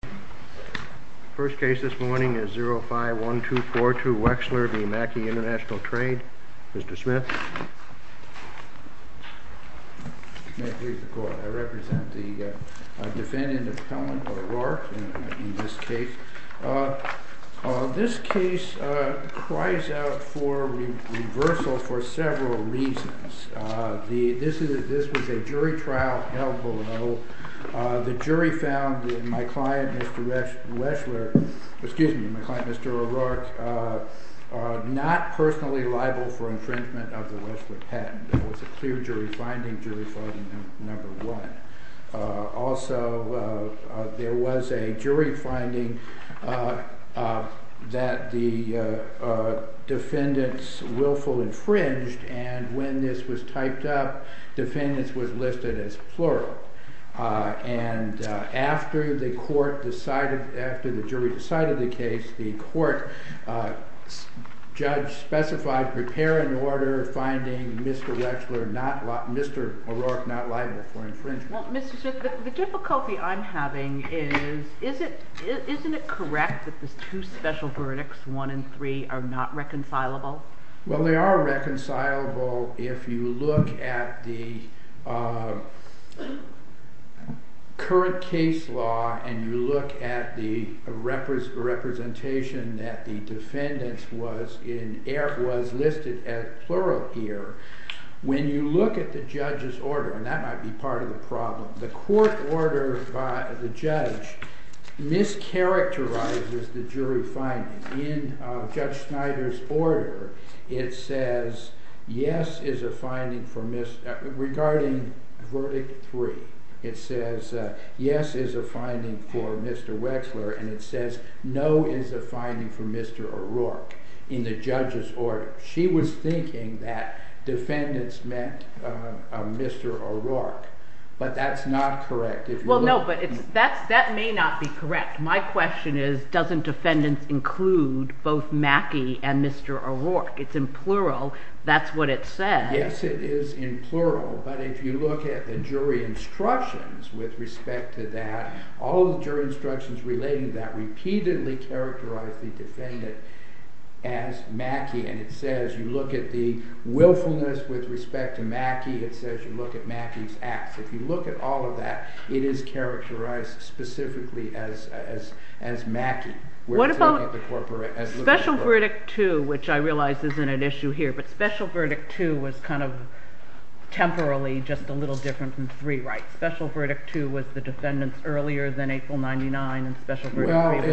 The first case this morning is 05-1242 Wechsler v. Macke Intl Trade. Mr. Smith. May it please the court, I represent the defendant of Helen O'Rourke in this case. This case cries out for reversal for several reasons. This was a jury trial held below. The jury found my client, Mr. O'Rourke, not personally liable for infringement of the Wechsler patent. There was a clear jury finding, jury finding number one. Also, there was a jury finding that the defendants willful infringed and when this was typed up, defendants was listed as plural. After the jury decided the case, the court judge specified prepare an order finding Mr. O'Rourke not liable for infringement. The difficulty I'm having is, isn't it correct that the two special verdicts, one and three, are not reconcilable? Well, they are reconcilable if you look at the current case law and you look at the representation that the defendants was listed as plural here. Regarding verdict three, it says yes is a finding for Mr. Wechsler and it says no is a finding for Mr. O'Rourke in the judge's order. She was thinking that defendants met Mr. O'Rourke, but that's not correct. Well, no, but that may not be correct. My question is, doesn't defendants include both Mackey and Mr. O'Rourke? It's in plural, that's what it says. Yes, it is in plural, but if you look at the jury instructions with respect to that, all the jury instructions relating to that repeatedly characterize the defendant as Mackey. And it says, you look at the willfulness with respect to Mackey, it says you look at Mackey's acts. If you look at all of that, it is characterized specifically as Mackey. What about special verdict two, which I realize isn't an issue here, but special verdict two was kind of temporarily just a little different than three, right? Well, it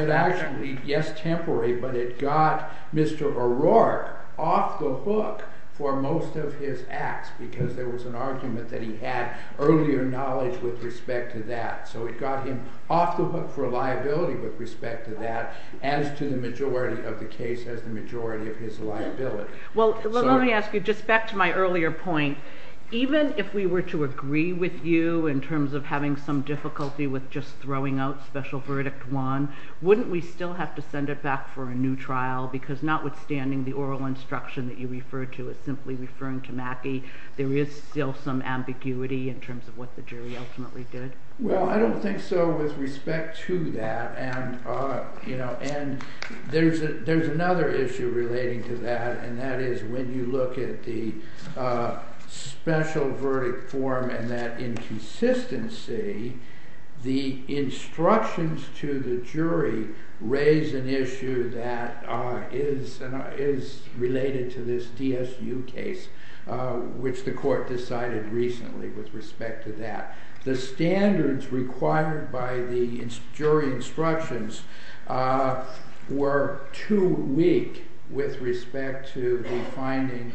actually, yes, temporary, but it got Mr. O'Rourke off the hook for most of his acts because there was an argument that he had earlier knowledge with respect to that. So it got him off the hook for liability with respect to that as to the majority of the case as the majority of his liability. Well, let me ask you, just back to my earlier point, even if we were to agree with you in terms of having some difficulty with just throwing out special verdict one, wouldn't we still have to send it back for a new trial? Because notwithstanding the oral instruction that you referred to as simply referring to Mackey, there is still some ambiguity in terms of what the jury ultimately did. Well, I don't think so with respect to that, and there's another issue relating to that, and that is when you look at the special verdict form and that inconsistency, the instructions to the jury raise an issue that is related to this DSU case, which the court decided recently with respect to that. The standards required by the jury instructions were too weak with respect to the finding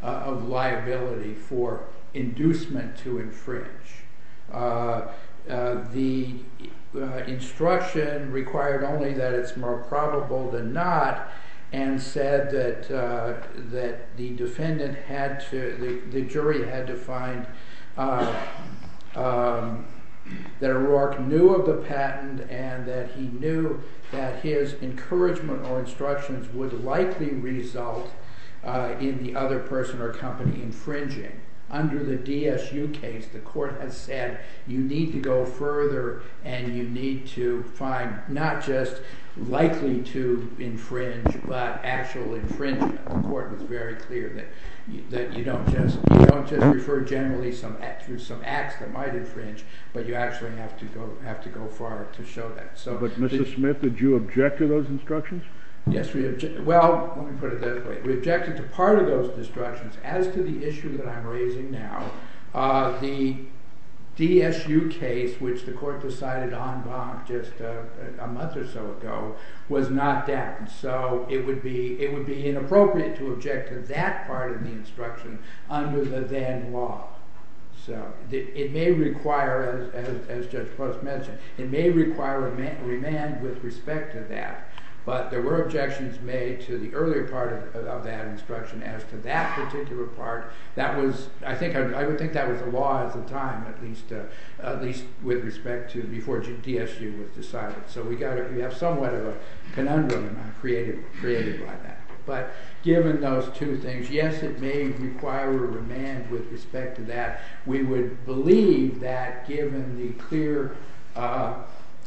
of liability for inducement to infringe. The instruction required only that it's more probable than not, and said that the jury had to find that O'Rourke knew of the patent and that he knew that his encouragement or instructions would likely result in the other person or company infringing. Under the DSU case, the court has said you need to go further and you need to find not just likely to infringe, but actual infringement. The court was very clear that you don't just refer generally to some acts that might infringe, but you actually have to go far to show that. But, Mr. Smith, did you object to those instructions? Well, let me put it this way. We objected to part of those instructions. As to the issue that I'm raising now, the DSU case, which the court decided en banc just a month or so ago, was not that, so it would be inappropriate to object to that part of the instruction under the then law. It may require, as Judge Post mentioned, it may require a remand with respect to that, but there were objections made to the earlier part of that instruction as to that particular part. I would think that was the law at the time, at least with respect to before DSU was decided, so we have somewhat of a conundrum created by that. But given those two things, yes, it may require a remand with respect to that. We would believe that given the clear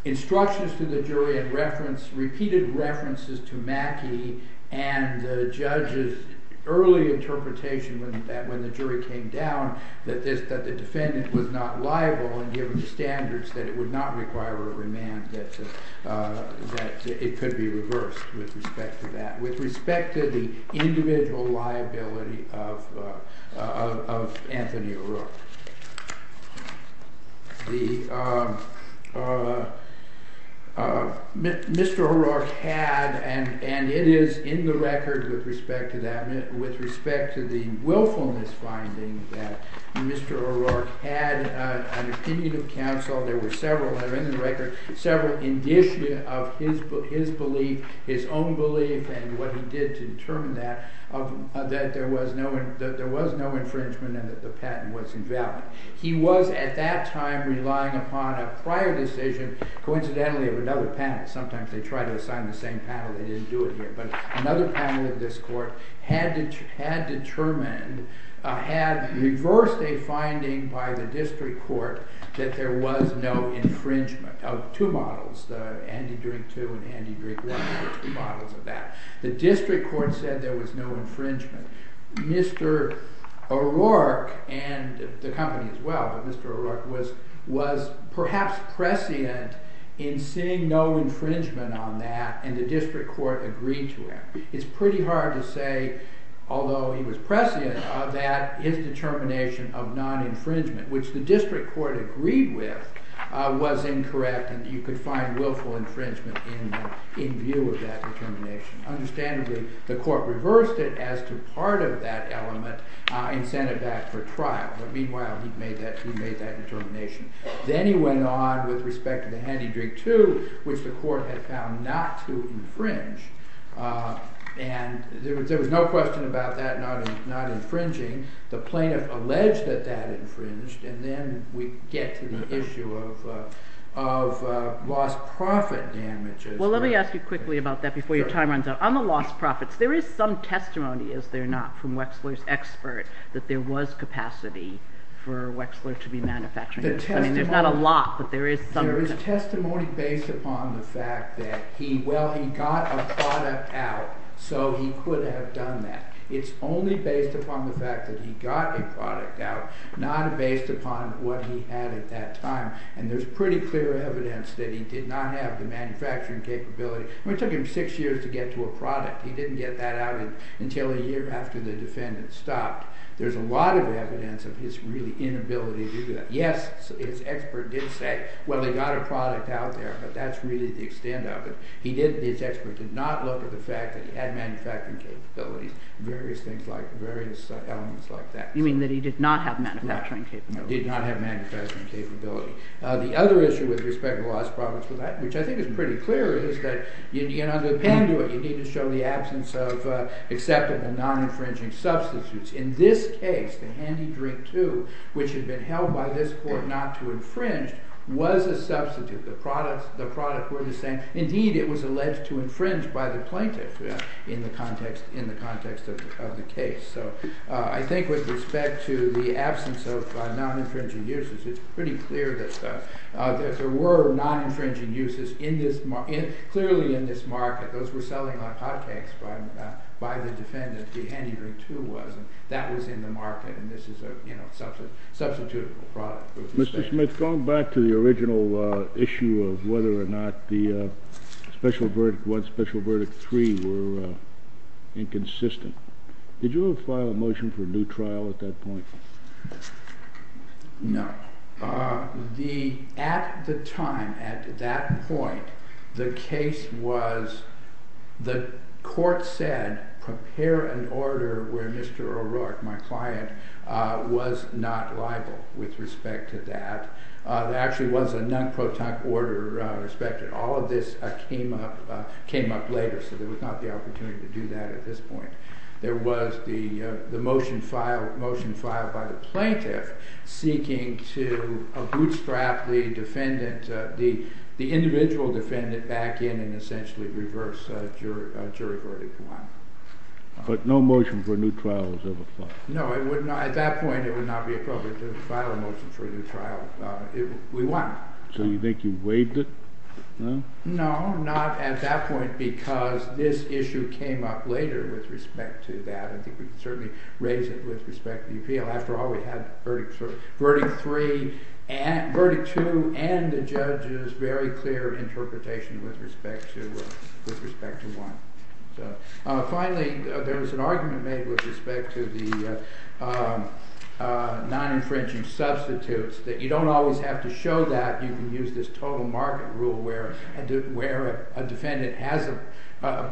instructions to the jury and repeated references to Mackey and the judge's early interpretation when the jury came down that the defendant was not liable, and given the standards that it would not require a remand, that it could be reversed with respect to that, with respect to the individual liability of Anthony O'Rourke. Mr. O'Rourke had, and it is in the record with respect to that, with respect to the willfulness finding that Mr. O'Rourke had an opinion of counsel. There were several in the record, several indicia of his belief, his own belief, and what he did to determine that, that there was no infringement and that the patent was invalid. He was at that time relying upon a prior decision, coincidentally of another panel, sometimes they try to assign the same panel, they didn't do it here, but another panel of this court had determined, had reversed a finding by the district court that there was no infringement of two models, Andy Drink II and Andy Drink I were two models of that. The district court said there was no infringement. Mr. O'Rourke, and the company as well, but Mr. O'Rourke was perhaps prescient in seeing no infringement on that and the district court agreed to it. It's pretty hard to say, although he was prescient, that his determination of non-infringement, which the district court agreed with, was incorrect and you could find willful infringement in view of that determination. Understandably, the court reversed it as to part of that element and sent it back for trial, but meanwhile he made that determination. Then he went on with respect to the Andy Drink II, which the court had found not to infringe, and there was no question about that not infringing. The plaintiff alleged that that infringed, and then we get to the issue of lost profit damages. Well, let me ask you quickly about that before your time runs out. On the lost profits, there is some testimony, is there not, from Wexler's expert that there was capacity for Wexler to be manufacturing this. There is testimony based upon the fact that he got a product out, so he could have done that. It's only based upon the fact that he got a product out, not based upon what he had at that time, and there's pretty clear evidence that he did not have the manufacturing capability. It took him six years to get to a product. He didn't get that out until a year after the defendant stopped. There's a lot of evidence of his inability to do that. Yes, his expert did say, well, they got a product out there, but that's really the extent of it. His expert did not look at the fact that he had manufacturing capabilities, various elements like that. You mean that he did not have manufacturing capability. He did not have manufacturing capability. The other issue with respect to lost profits, which I think is pretty clear, is that you need to show the absence of accepted and non-infringing substitutes. In this case, the handy drink 2, which had been held by this court not to infringe, was a substitute. The products were the same. Indeed, it was alleged to infringe by the plaintiff in the context of the case. So I think with respect to the absence of non-infringing uses, it's pretty clear that there were non-infringing uses clearly in this market. Those were selling like hotcakes by the defendant, the handy drink 2 was, and that was in the market, and this is a substitutable product. Mr. Smith, going back to the original issue of whether or not the special verdict 1, special verdict 3 were inconsistent, did you ever file a motion for a new trial at that point? No. At the time, at that point, the case was, the court said, prepare an order where Mr. O'Rourke, my client, was not liable with respect to that. There actually was a non-protect order respected. All of this came up later, so there was not the opportunity to do that at this point. There was the motion filed by the plaintiff seeking to bootstrap the defendant, the individual defendant, back in and essentially reverse jury verdict 1. But no motion for a new trial was ever filed? No, at that point it would not be appropriate to file a motion for a new trial. We won. So you think you waived it? No, not at that point because this issue came up later with respect to that. I think we can certainly raise it with respect to the appeal. After all, we had verdict 3, verdict 2, and the judge's very clear interpretation with respect to 1. Finally, there was an argument made with respect to the non-infringing substitutes that you don't always have to show that. You can use this total market rule where a defendant has, a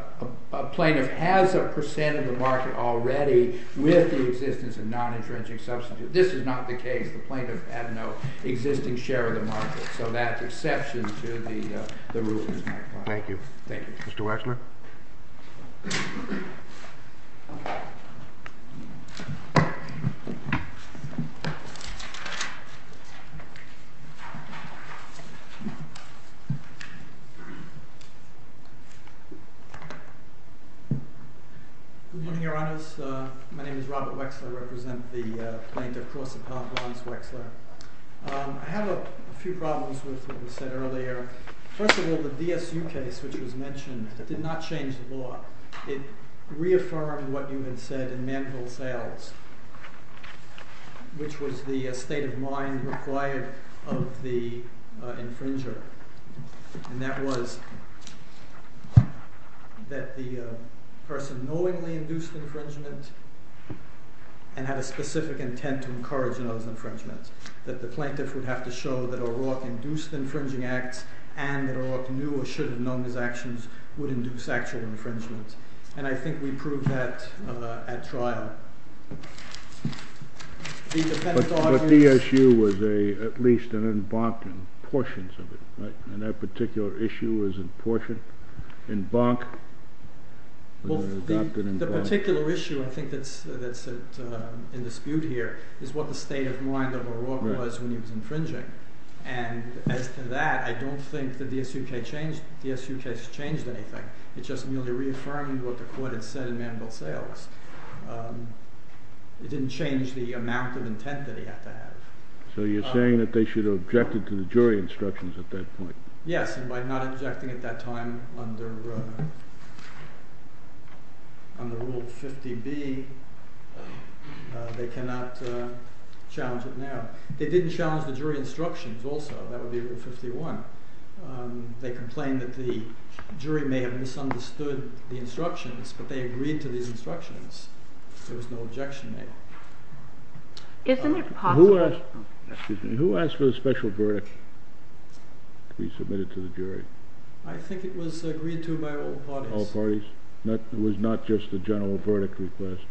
plaintiff has a percent of the market already with the existence of non-infringing substitutes. This is not the case. The plaintiff had no existing share of the market, so that's exception to the rule. Thank you. Mr. Wexler. Good morning, Your Honors. My name is Robert Wexler. I represent the plaintiff, Clause Appellate Lawrence Wexler. I have a few problems with what was said earlier. First of all, the DSU case, which was mentioned, did not change the law. It reaffirmed what you had said in Manville Sales, which was the state of mind required of the infringer. And that was that the person knowingly induced infringement and had a specific intent to encourage those infringements. That the plaintiff would have to show that O'Rourke induced infringing acts and that O'Rourke knew or should have known his actions would induce actual infringements. And I think we proved that at trial. But DSU was at least an embankment, portions of it, right? And that particular issue was an embankment? Well, the particular issue I think that's in dispute here is what the state of mind of O'Rourke was when he was infringing. And as to that, I don't think the DSU case changed anything. It just merely reaffirmed what the court had said in Manville Sales. It didn't change the amount of intent that he had to have. So you're saying that they should have objected to the jury instructions at that point? Yes, and by not objecting at that time under Rule 50B, they cannot challenge it now. They didn't challenge the jury instructions also. That would be Rule 51. They complained that the jury may have misunderstood the instructions, but they agreed to these instructions. There was no objection made. Who asked for the special verdict to be submitted to the jury? I think it was agreed to by all parties. All parties? It was not just a general verdict request?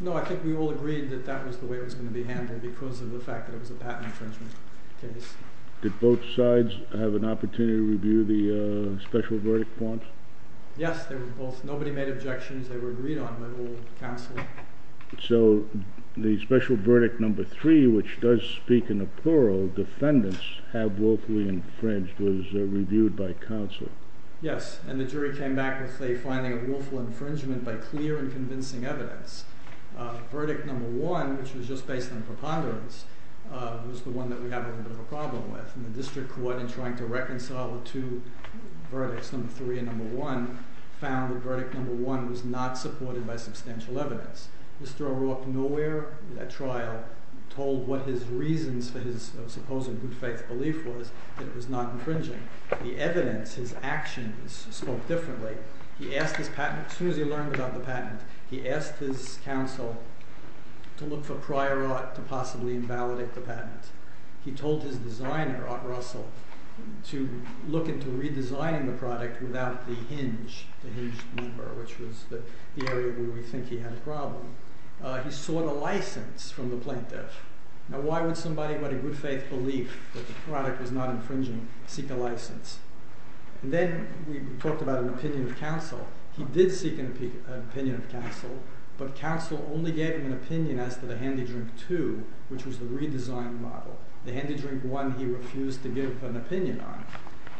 No, I think we all agreed that that was the way it was going to be handled because of the fact that it was a patent infringement case. Did both sides have an opportunity to review the special verdict forms? Yes, nobody made objections. They were agreed on by all counsel. So the special verdict number three, which does speak in a plural, defendants have willfully infringed, was reviewed by counsel? Yes, and the jury came back with a finding of willful infringement by clear and convincing evidence. Verdict number one, which was just based on preponderance, was the one that we have a little bit of a problem with, and the district court in trying to reconcile the two verdicts, number three and number one, found that verdict number one was not supported by substantial evidence. Mr. O'Rourke nowhere in that trial told what his reasons for his supposed good faith belief was that it was not infringing. The evidence, his actions, spoke differently. As soon as he learned about the patent, he asked his counsel to look for prior art to possibly invalidate the patent. He told his designer, Art Russell, to look into redesigning the product without the hinge number, which was the area where we think he had a problem. He sought a license from the plaintiff. Now why would somebody with a good faith belief that the product was not infringing seek a license? Then we talked about an opinion of counsel. He did seek an opinion of counsel, but counsel only gave him an opinion as to the handy drink two, which was the redesigned model. The handy drink one he refused to give an opinion on.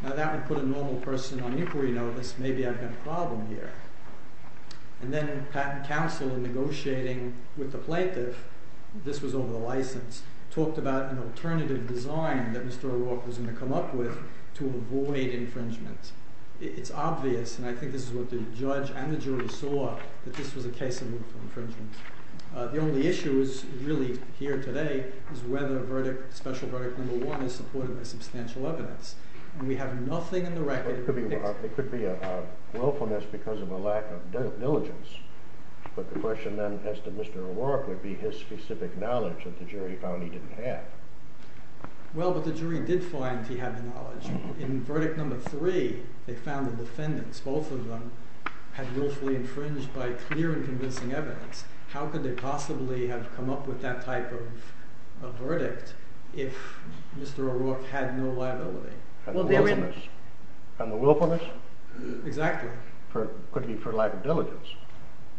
Now that would put a normal person on inquiry notice, maybe I've got a problem here. Then Pat and counsel in negotiating with the plaintiff, this was over the license, talked about an alternative design that Mr. O'Rourke was going to come up with to avoid infringement. It's obvious, and I think this is what the judge and the jury saw, that this was a case of infringement. The only issue really here today is whether special verdict number one is supported by substantial evidence. There could be a willfulness because of a lack of diligence, but the question then as to Mr. O'Rourke would be his specific knowledge that the jury found he didn't have. Well, but the jury did find he had the knowledge. In verdict number three, they found the defendants, both of them, had willfully infringed by clear and convincing evidence. How could they possibly have come up with that type of verdict if Mr. O'Rourke had no liability? On the willfulness? Exactly. Could be for lack of diligence,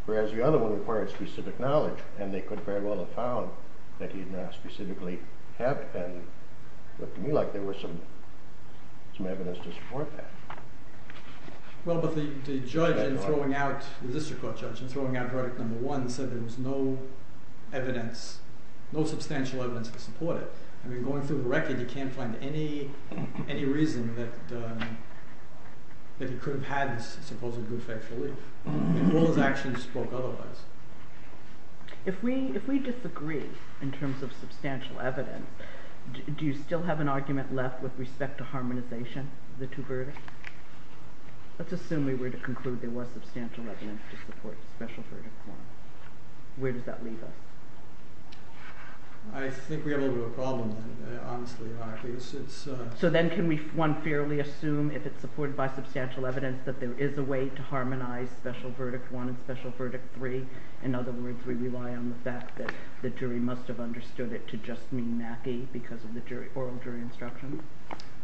whereas the other one required specific knowledge, and they could very well have found that he did not specifically have it, and it looked to me like there was some evidence to support that. Well, but the district court judge in throwing out verdict number one said there was no substantial evidence to support it. I mean, going through the record, you can't find any reason that he could have had this supposedly good faith relief. If all his actions spoke otherwise. If we disagree in terms of substantial evidence, do you still have an argument left with respect to harmonization of the two verdicts? Let's assume we were to conclude there was substantial evidence to support special verdict one. Where does that leave us? I think we have a little bit of a problem then, honestly. So then can we, one, fairly assume if it's supported by substantial evidence that there is a way to harmonize special verdict one and special verdict three? In other words, we rely on the fact that the jury must have understood it to just mean Mackie because of the oral jury instruction?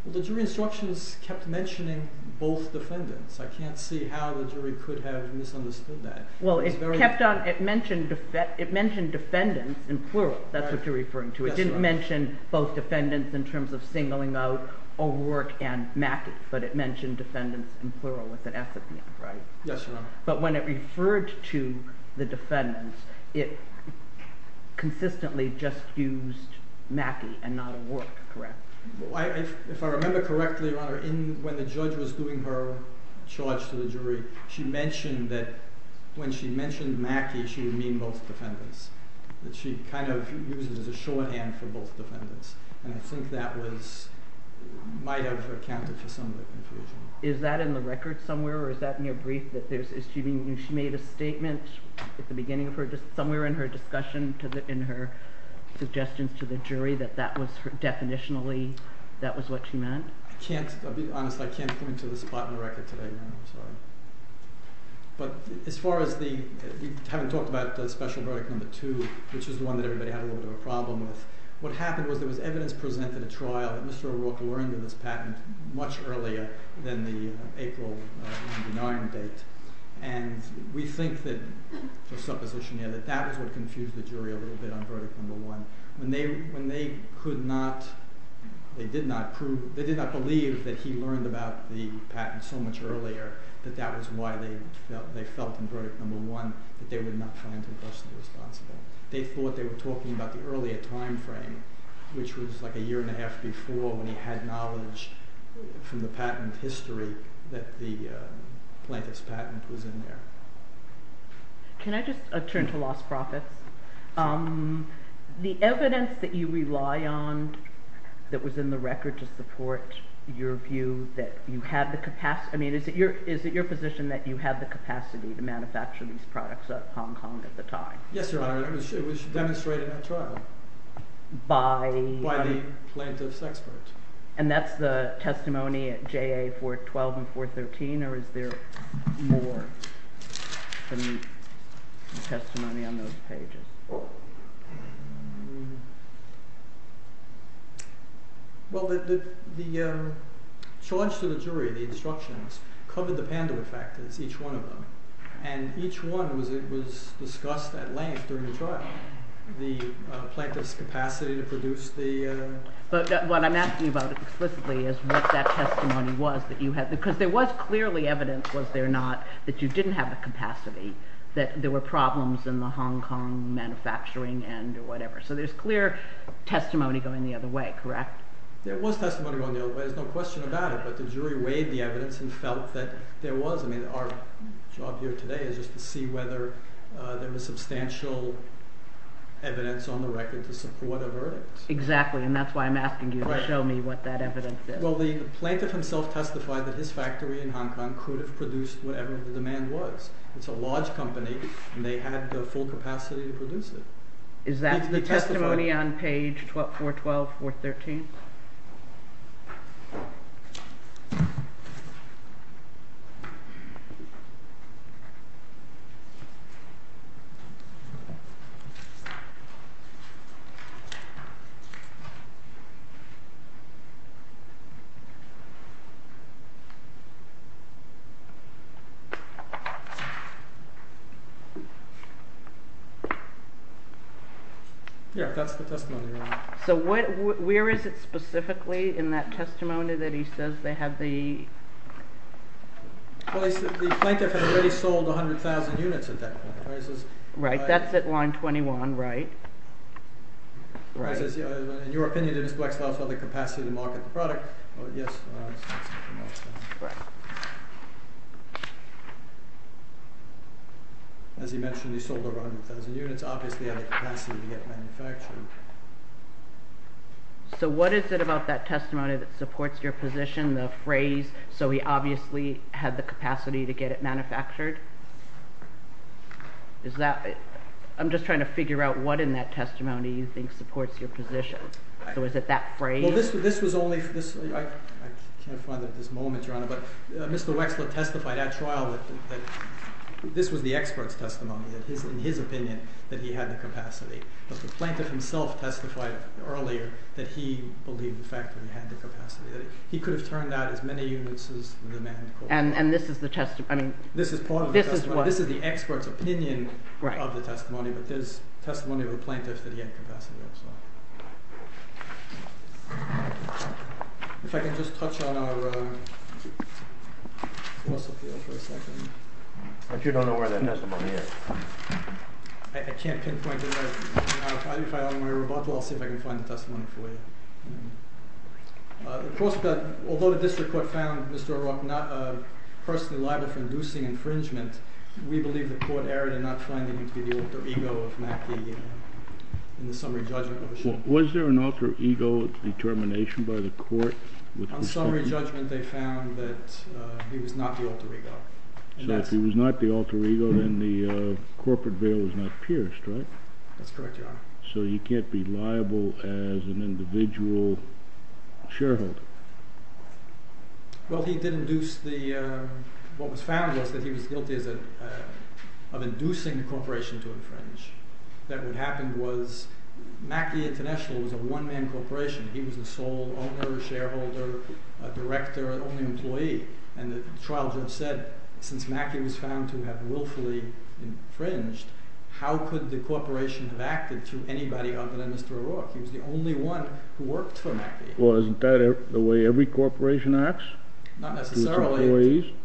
Well, the jury instructions kept mentioning both defendants. I can't see how the jury could have misunderstood that. Well, it mentioned defendants in plural. That's what you're referring to. It didn't mention both defendants in terms of singling out O'Rourke and Mackie, but it mentioned defendants in plural with an F at the end, right? Yes, Your Honor. But when it referred to the defendants, it consistently just used Mackie and not O'Rourke, correct? If I remember correctly, Your Honor, when the judge was doing her charge to the jury, she mentioned that when she mentioned Mackie, she would mean both defendants. She kind of used it as a shorthand for both defendants, and I think that might have accounted for some of the confusion. Is that in the record somewhere, or is that in your brief, that she made a statement at the beginning of her, somewhere in her discussion, in her suggestions to the jury, that that was definitionally, that was what she meant? I can't, I'll be honest, I can't point to the spot in the record today, Your Honor. I'm sorry. But as far as the, you haven't talked about special verdict number two, which is the one that everybody had a little bit of a problem with. What happened was there was evidence presented at trial that Mr. O'Rourke learned of this patent much earlier than the April 1999 date. And we think that, for supposition here, that that was what confused the jury a little bit on verdict number one. When they, when they could not, they did not prove, they did not believe that he learned about the patent so much earlier, that that was why they felt, they felt in verdict number one that they were not client and personally responsible. They thought they were talking about the earlier time frame, which was like a year and a half before when he had knowledge from the patent history that the plaintiff's patent was in there. Can I just turn to lost profits? The evidence that you rely on that was in the record to support your view that you had the capacity, I mean, is it your position that you had the capacity to manufacture these products out of Hong Kong at the time? Yes, Your Honor, it was demonstrated at trial by the plaintiff's expert. And that's the testimony at JA 412 and 413 or is there more testimony on those pages? Well, the charge to the jury, the instructions, covered the panda effect, as each one of them, and each one was discussed at length during the trial. The plaintiff's capacity to produce the… But what I'm asking about explicitly is what that testimony was that you had, because there was clearly evidence, was there not, that you didn't have the capacity, that there were problems in the Hong Kong manufacturing end or whatever, so there's clear testimony going the other way, correct? There was testimony going the other way, there's no question about it, but the jury weighed the evidence and felt that there was, I mean, our job here today is just to see whether there was substantial evidence on the record to support a verdict. Exactly, and that's why I'm asking you to show me what that evidence is. Well, the plaintiff himself testified that his factory in Hong Kong could have produced whatever the demand was. It's a large company and they had the full capacity to produce it. Is that the testimony on page 412, 413? Yeah, that's the testimony. So where is it specifically in that testimony that he says they have the… Well, the plaintiff had already sold 100,000 units at that point. Right, that's at line 21, right? Right. In your opinion, did his black slaves have the capacity to market the product? Yes. Right. As he mentioned, he sold over 100,000 units, obviously had the capacity to get it manufactured. So what is it about that testimony that supports your position, the phrase, so he obviously had the capacity to get it manufactured? I'm just trying to figure out what in that testimony you think supports your position. So is it that phrase? I can't find it at this moment, Your Honor, but Mr. Wexler testified at trial that this was the expert's testimony, in his opinion, that he had the capacity. But the plaintiff himself testified earlier that he believed the factory had the capacity. He could have turned out as many units as the demand. And this is the testimony? This is the expert's opinion of the testimony, but there's testimony of the plaintiff that he had capacity, so. If I can just touch on our course appeal for a second. But you don't know where that testimony is? I can't pinpoint it, but if I have my rebuttal, I'll see if I can find the testimony for you. Although the district court found Mr. O'Rourke personally liable for inducing infringement, we believe the court erred in not finding him to be the alter ego of Mackie in the summary judgment. Was there an alter ego determination by the court? On summary judgment, they found that he was not the alter ego. So if he was not the alter ego, then the corporate veil was not pierced, right? That's correct, Your Honor. So he can't be liable as an individual shareholder? Well, he did induce the, what was found was that he was guilty of inducing the corporation to infringe. That what happened was Mackie International was a one-man corporation. He was the sole owner, shareholder, director, only employee. And the trial judge said, since Mackie was found to have willfully infringed, how could the corporation have acted to anybody other than Mr. O'Rourke? He was the only one who worked for Mackie. Well, isn't that the way every corporation acts? Not necessarily.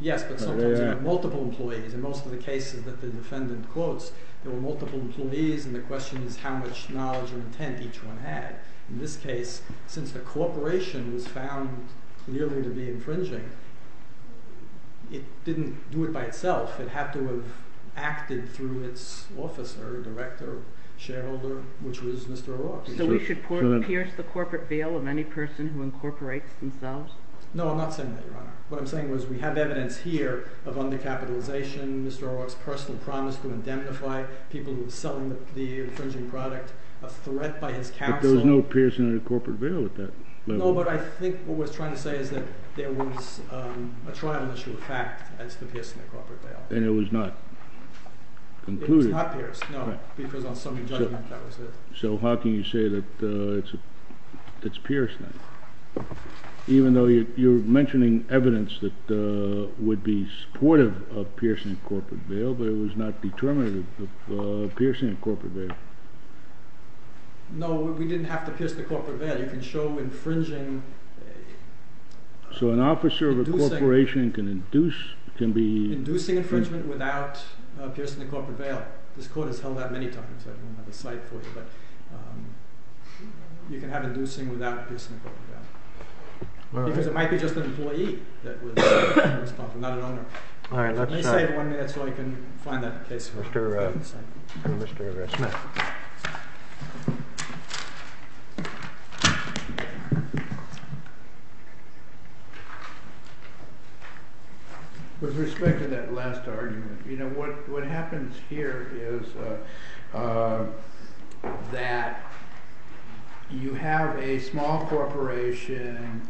Yes, but sometimes you have multiple employees. In most of the cases that the defendant quotes, there were multiple employees, and the question is how much knowledge and intent each one had. In this case, since the corporation was found clearly to be infringing, it didn't do it by itself. It had to have acted through its officer, director, shareholder, which was Mr. O'Rourke. So we should pierce the corporate veil of any person who incorporates themselves? No, I'm not saying that, Your Honor. What I'm saying is we have evidence here of undercapitalization, Mr. O'Rourke's personal promise to indemnify people who were selling the infringing product, a threat by his counsel. There was no piercing of the corporate veil at that level. No, but I think what we're trying to say is that there was a trial in which it was a fact as to piercing the corporate veil. And it was not concluded? It was not pierced, no, because on summary judgment, that was it. So how can you say that it's pierced then? Even though you're mentioning evidence that would be supportive of piercing the corporate veil, but it was not determinative of piercing the corporate veil. No, we didn't have to pierce the corporate veil. You can show infringing. So an officer of a corporation can induce, can be... Inducing infringement without piercing the corporate veil. This Court has held that many times. I don't have the cite for you, but you can have inducing without piercing the corporate veil. Because it might be just an employee that was responsible, not an owner. Let me save one minute so I can find that case for you. Mr. O'Rourke. With respect to that last argument, you know, what happens here is that you have a small corporation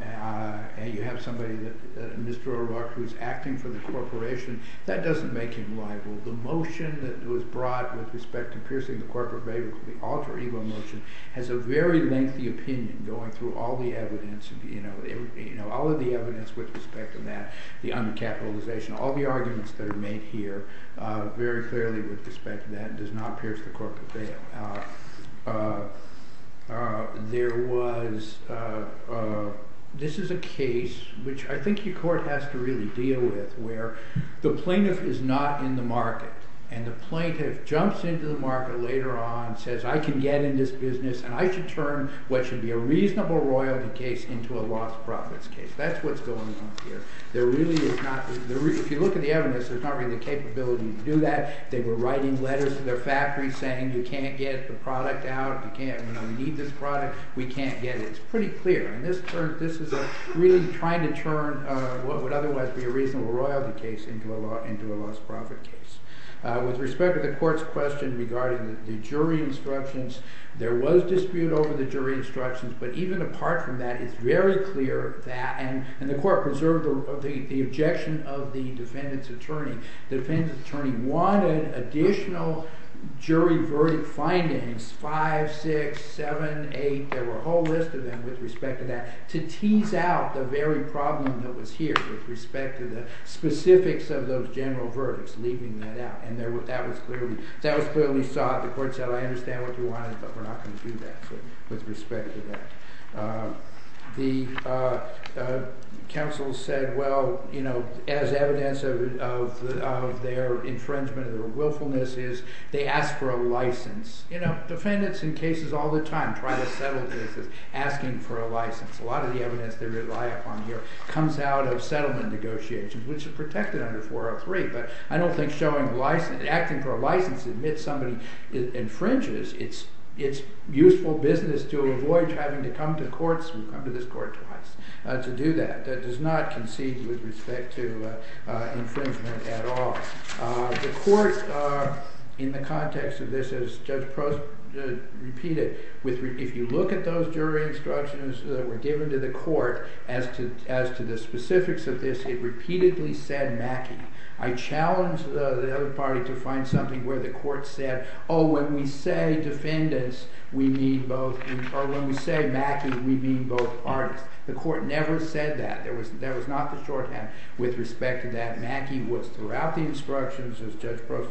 and you have somebody, Mr. O'Rourke, who's acting for the corporation. That doesn't make him liable. The motion that was brought with respect to piercing the corporate veil, the alter ego motion, has a very lengthy opinion going through all the evidence. All of the evidence with respect to that, the uncapitalization, all the arguments that are made here, very clearly with respect to that, does not pierce the corporate veil. There was, this is a case, which I think your Court has to really deal with, where the plaintiff is not in the market. And the plaintiff jumps into the market later on, says, I can get in this business and I should turn what should be a reasonable royalty case into a lost profits case. That's what's going on here. There really is not, if you look at the evidence, there's not really the capability to do that. They were writing letters to their factories saying, you can't get the product out, you can't, we don't need this product, we can't get it. It's pretty clear, and this is really trying to turn what would otherwise be a reasonable royalty case into a lost profit case. With respect to the Court's question regarding the jury instructions, there was dispute over the jury instructions, but even apart from that, it's very clear that, and the Court preserved the objection of the defendant's attorney. The defendant's attorney wanted additional jury verdict findings, 5, 6, 7, 8, there were a whole list of them with respect to that, to tease out the very problem that was here with respect to the specifics of those general verdicts, leaving that out. And that was clearly sought. The Court said, I understand what you wanted, but we're not going to do that with respect to that. The counsel said, well, you know, as evidence of their infringement of their willfulness is, they asked for a license. You know, defendants in cases all the time, private settlement cases, asking for a license, a lot of the evidence they rely upon here comes out of settlement negotiations, which are protected under 403. But I don't think acting for a license to admit somebody infringes, it's useful business to avoid having to come to this Court twice to do that. That does not concede with respect to infringement at all. The Court, in the context of this, as Judge Prost repeated, if you look at those jury instructions that were given to the Court as to the specifics of this, it repeatedly said Mackey. I challenge the other party to find something where the Court said, oh, when we say defendants, we mean both, or when we say Mackey, we mean both parties. The Court never said that. There was not the shorthand with respect to that. Mackey was throughout the instructions, as Judge Prost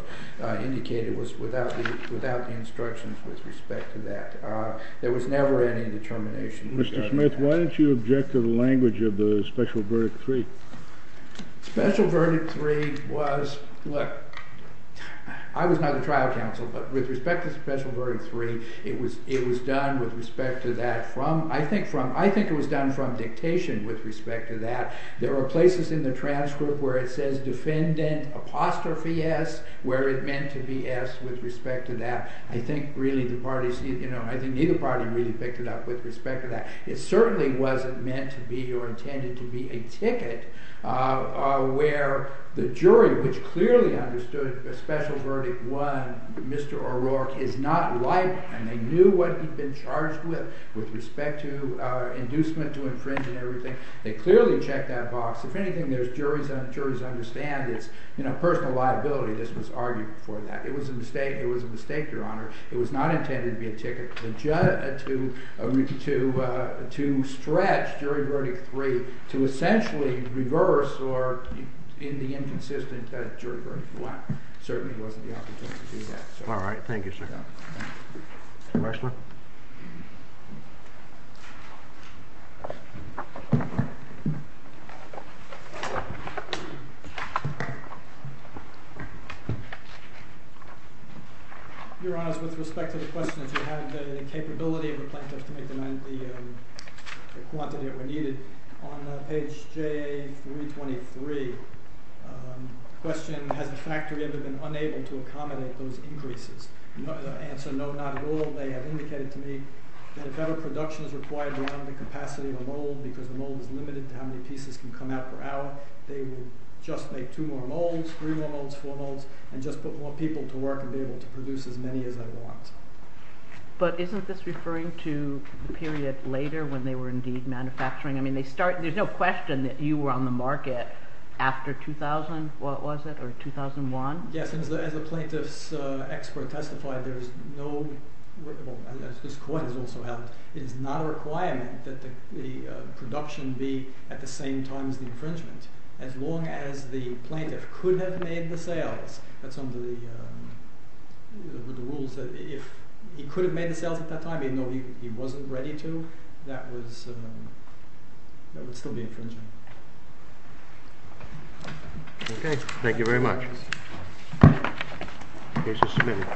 indicated, was without the instructions with respect to that. There was never any determination. Mr. Smith, why don't you object to the language of the special verdict three? Special verdict three was, look, I was not the trial counsel, but with respect to special verdict three, it was done with respect to that from, I think from, it was done from dictation with respect to that. There were places in the transcript where it says defendant apostrophe S, where it meant to be S with respect to that. I think really the parties, you know, I think neither party really picked it up with respect to that. It certainly wasn't meant to be or intended to be a ticket where the jury, which clearly understood special verdict one, Mr. O'Rourke, is not liable, and they knew what he'd been charged with with respect to inducement to infringe and everything. They clearly checked that box. If anything, there's juries that understand it's, you know, personal liability. This was argued before that. It was a mistake. It was a mistake, Your Honor. It was not intended to be a ticket to stretch jury verdict three to essentially reverse or, in the inconsistent, jury verdict one. Certainly wasn't the opportunity to do that. All right. Thank you, sir. Commissioner? Your Honor, with respect to the questions, you had the capability of a plaintiff to make them out of the quantity that were needed. On page J323, the question, has the factory ever been unable to accommodate those increases? The answer, no, not at all. They have indicated to me that if ever production is required beyond the capacity of a mold because the mold is limited to how many pieces can come out per hour, they will just make two more molds, three more molds, four molds, and just put more people to work and be able to produce as many as they want. But isn't this referring to the period later when they were indeed manufacturing? I mean, there's no question that you were on the market after 2000, what was it, or 2001? Yes. As the plaintiff's expert testified, there is no—this court has also held—it is not a requirement that the production be at the same time as the infringement. As long as the plaintiff could have made the sales, that's under the rules, if he could have made the sales at that time, even though he wasn't ready to, that would still be infringement. Okay. Thank you very much. The case is submitted.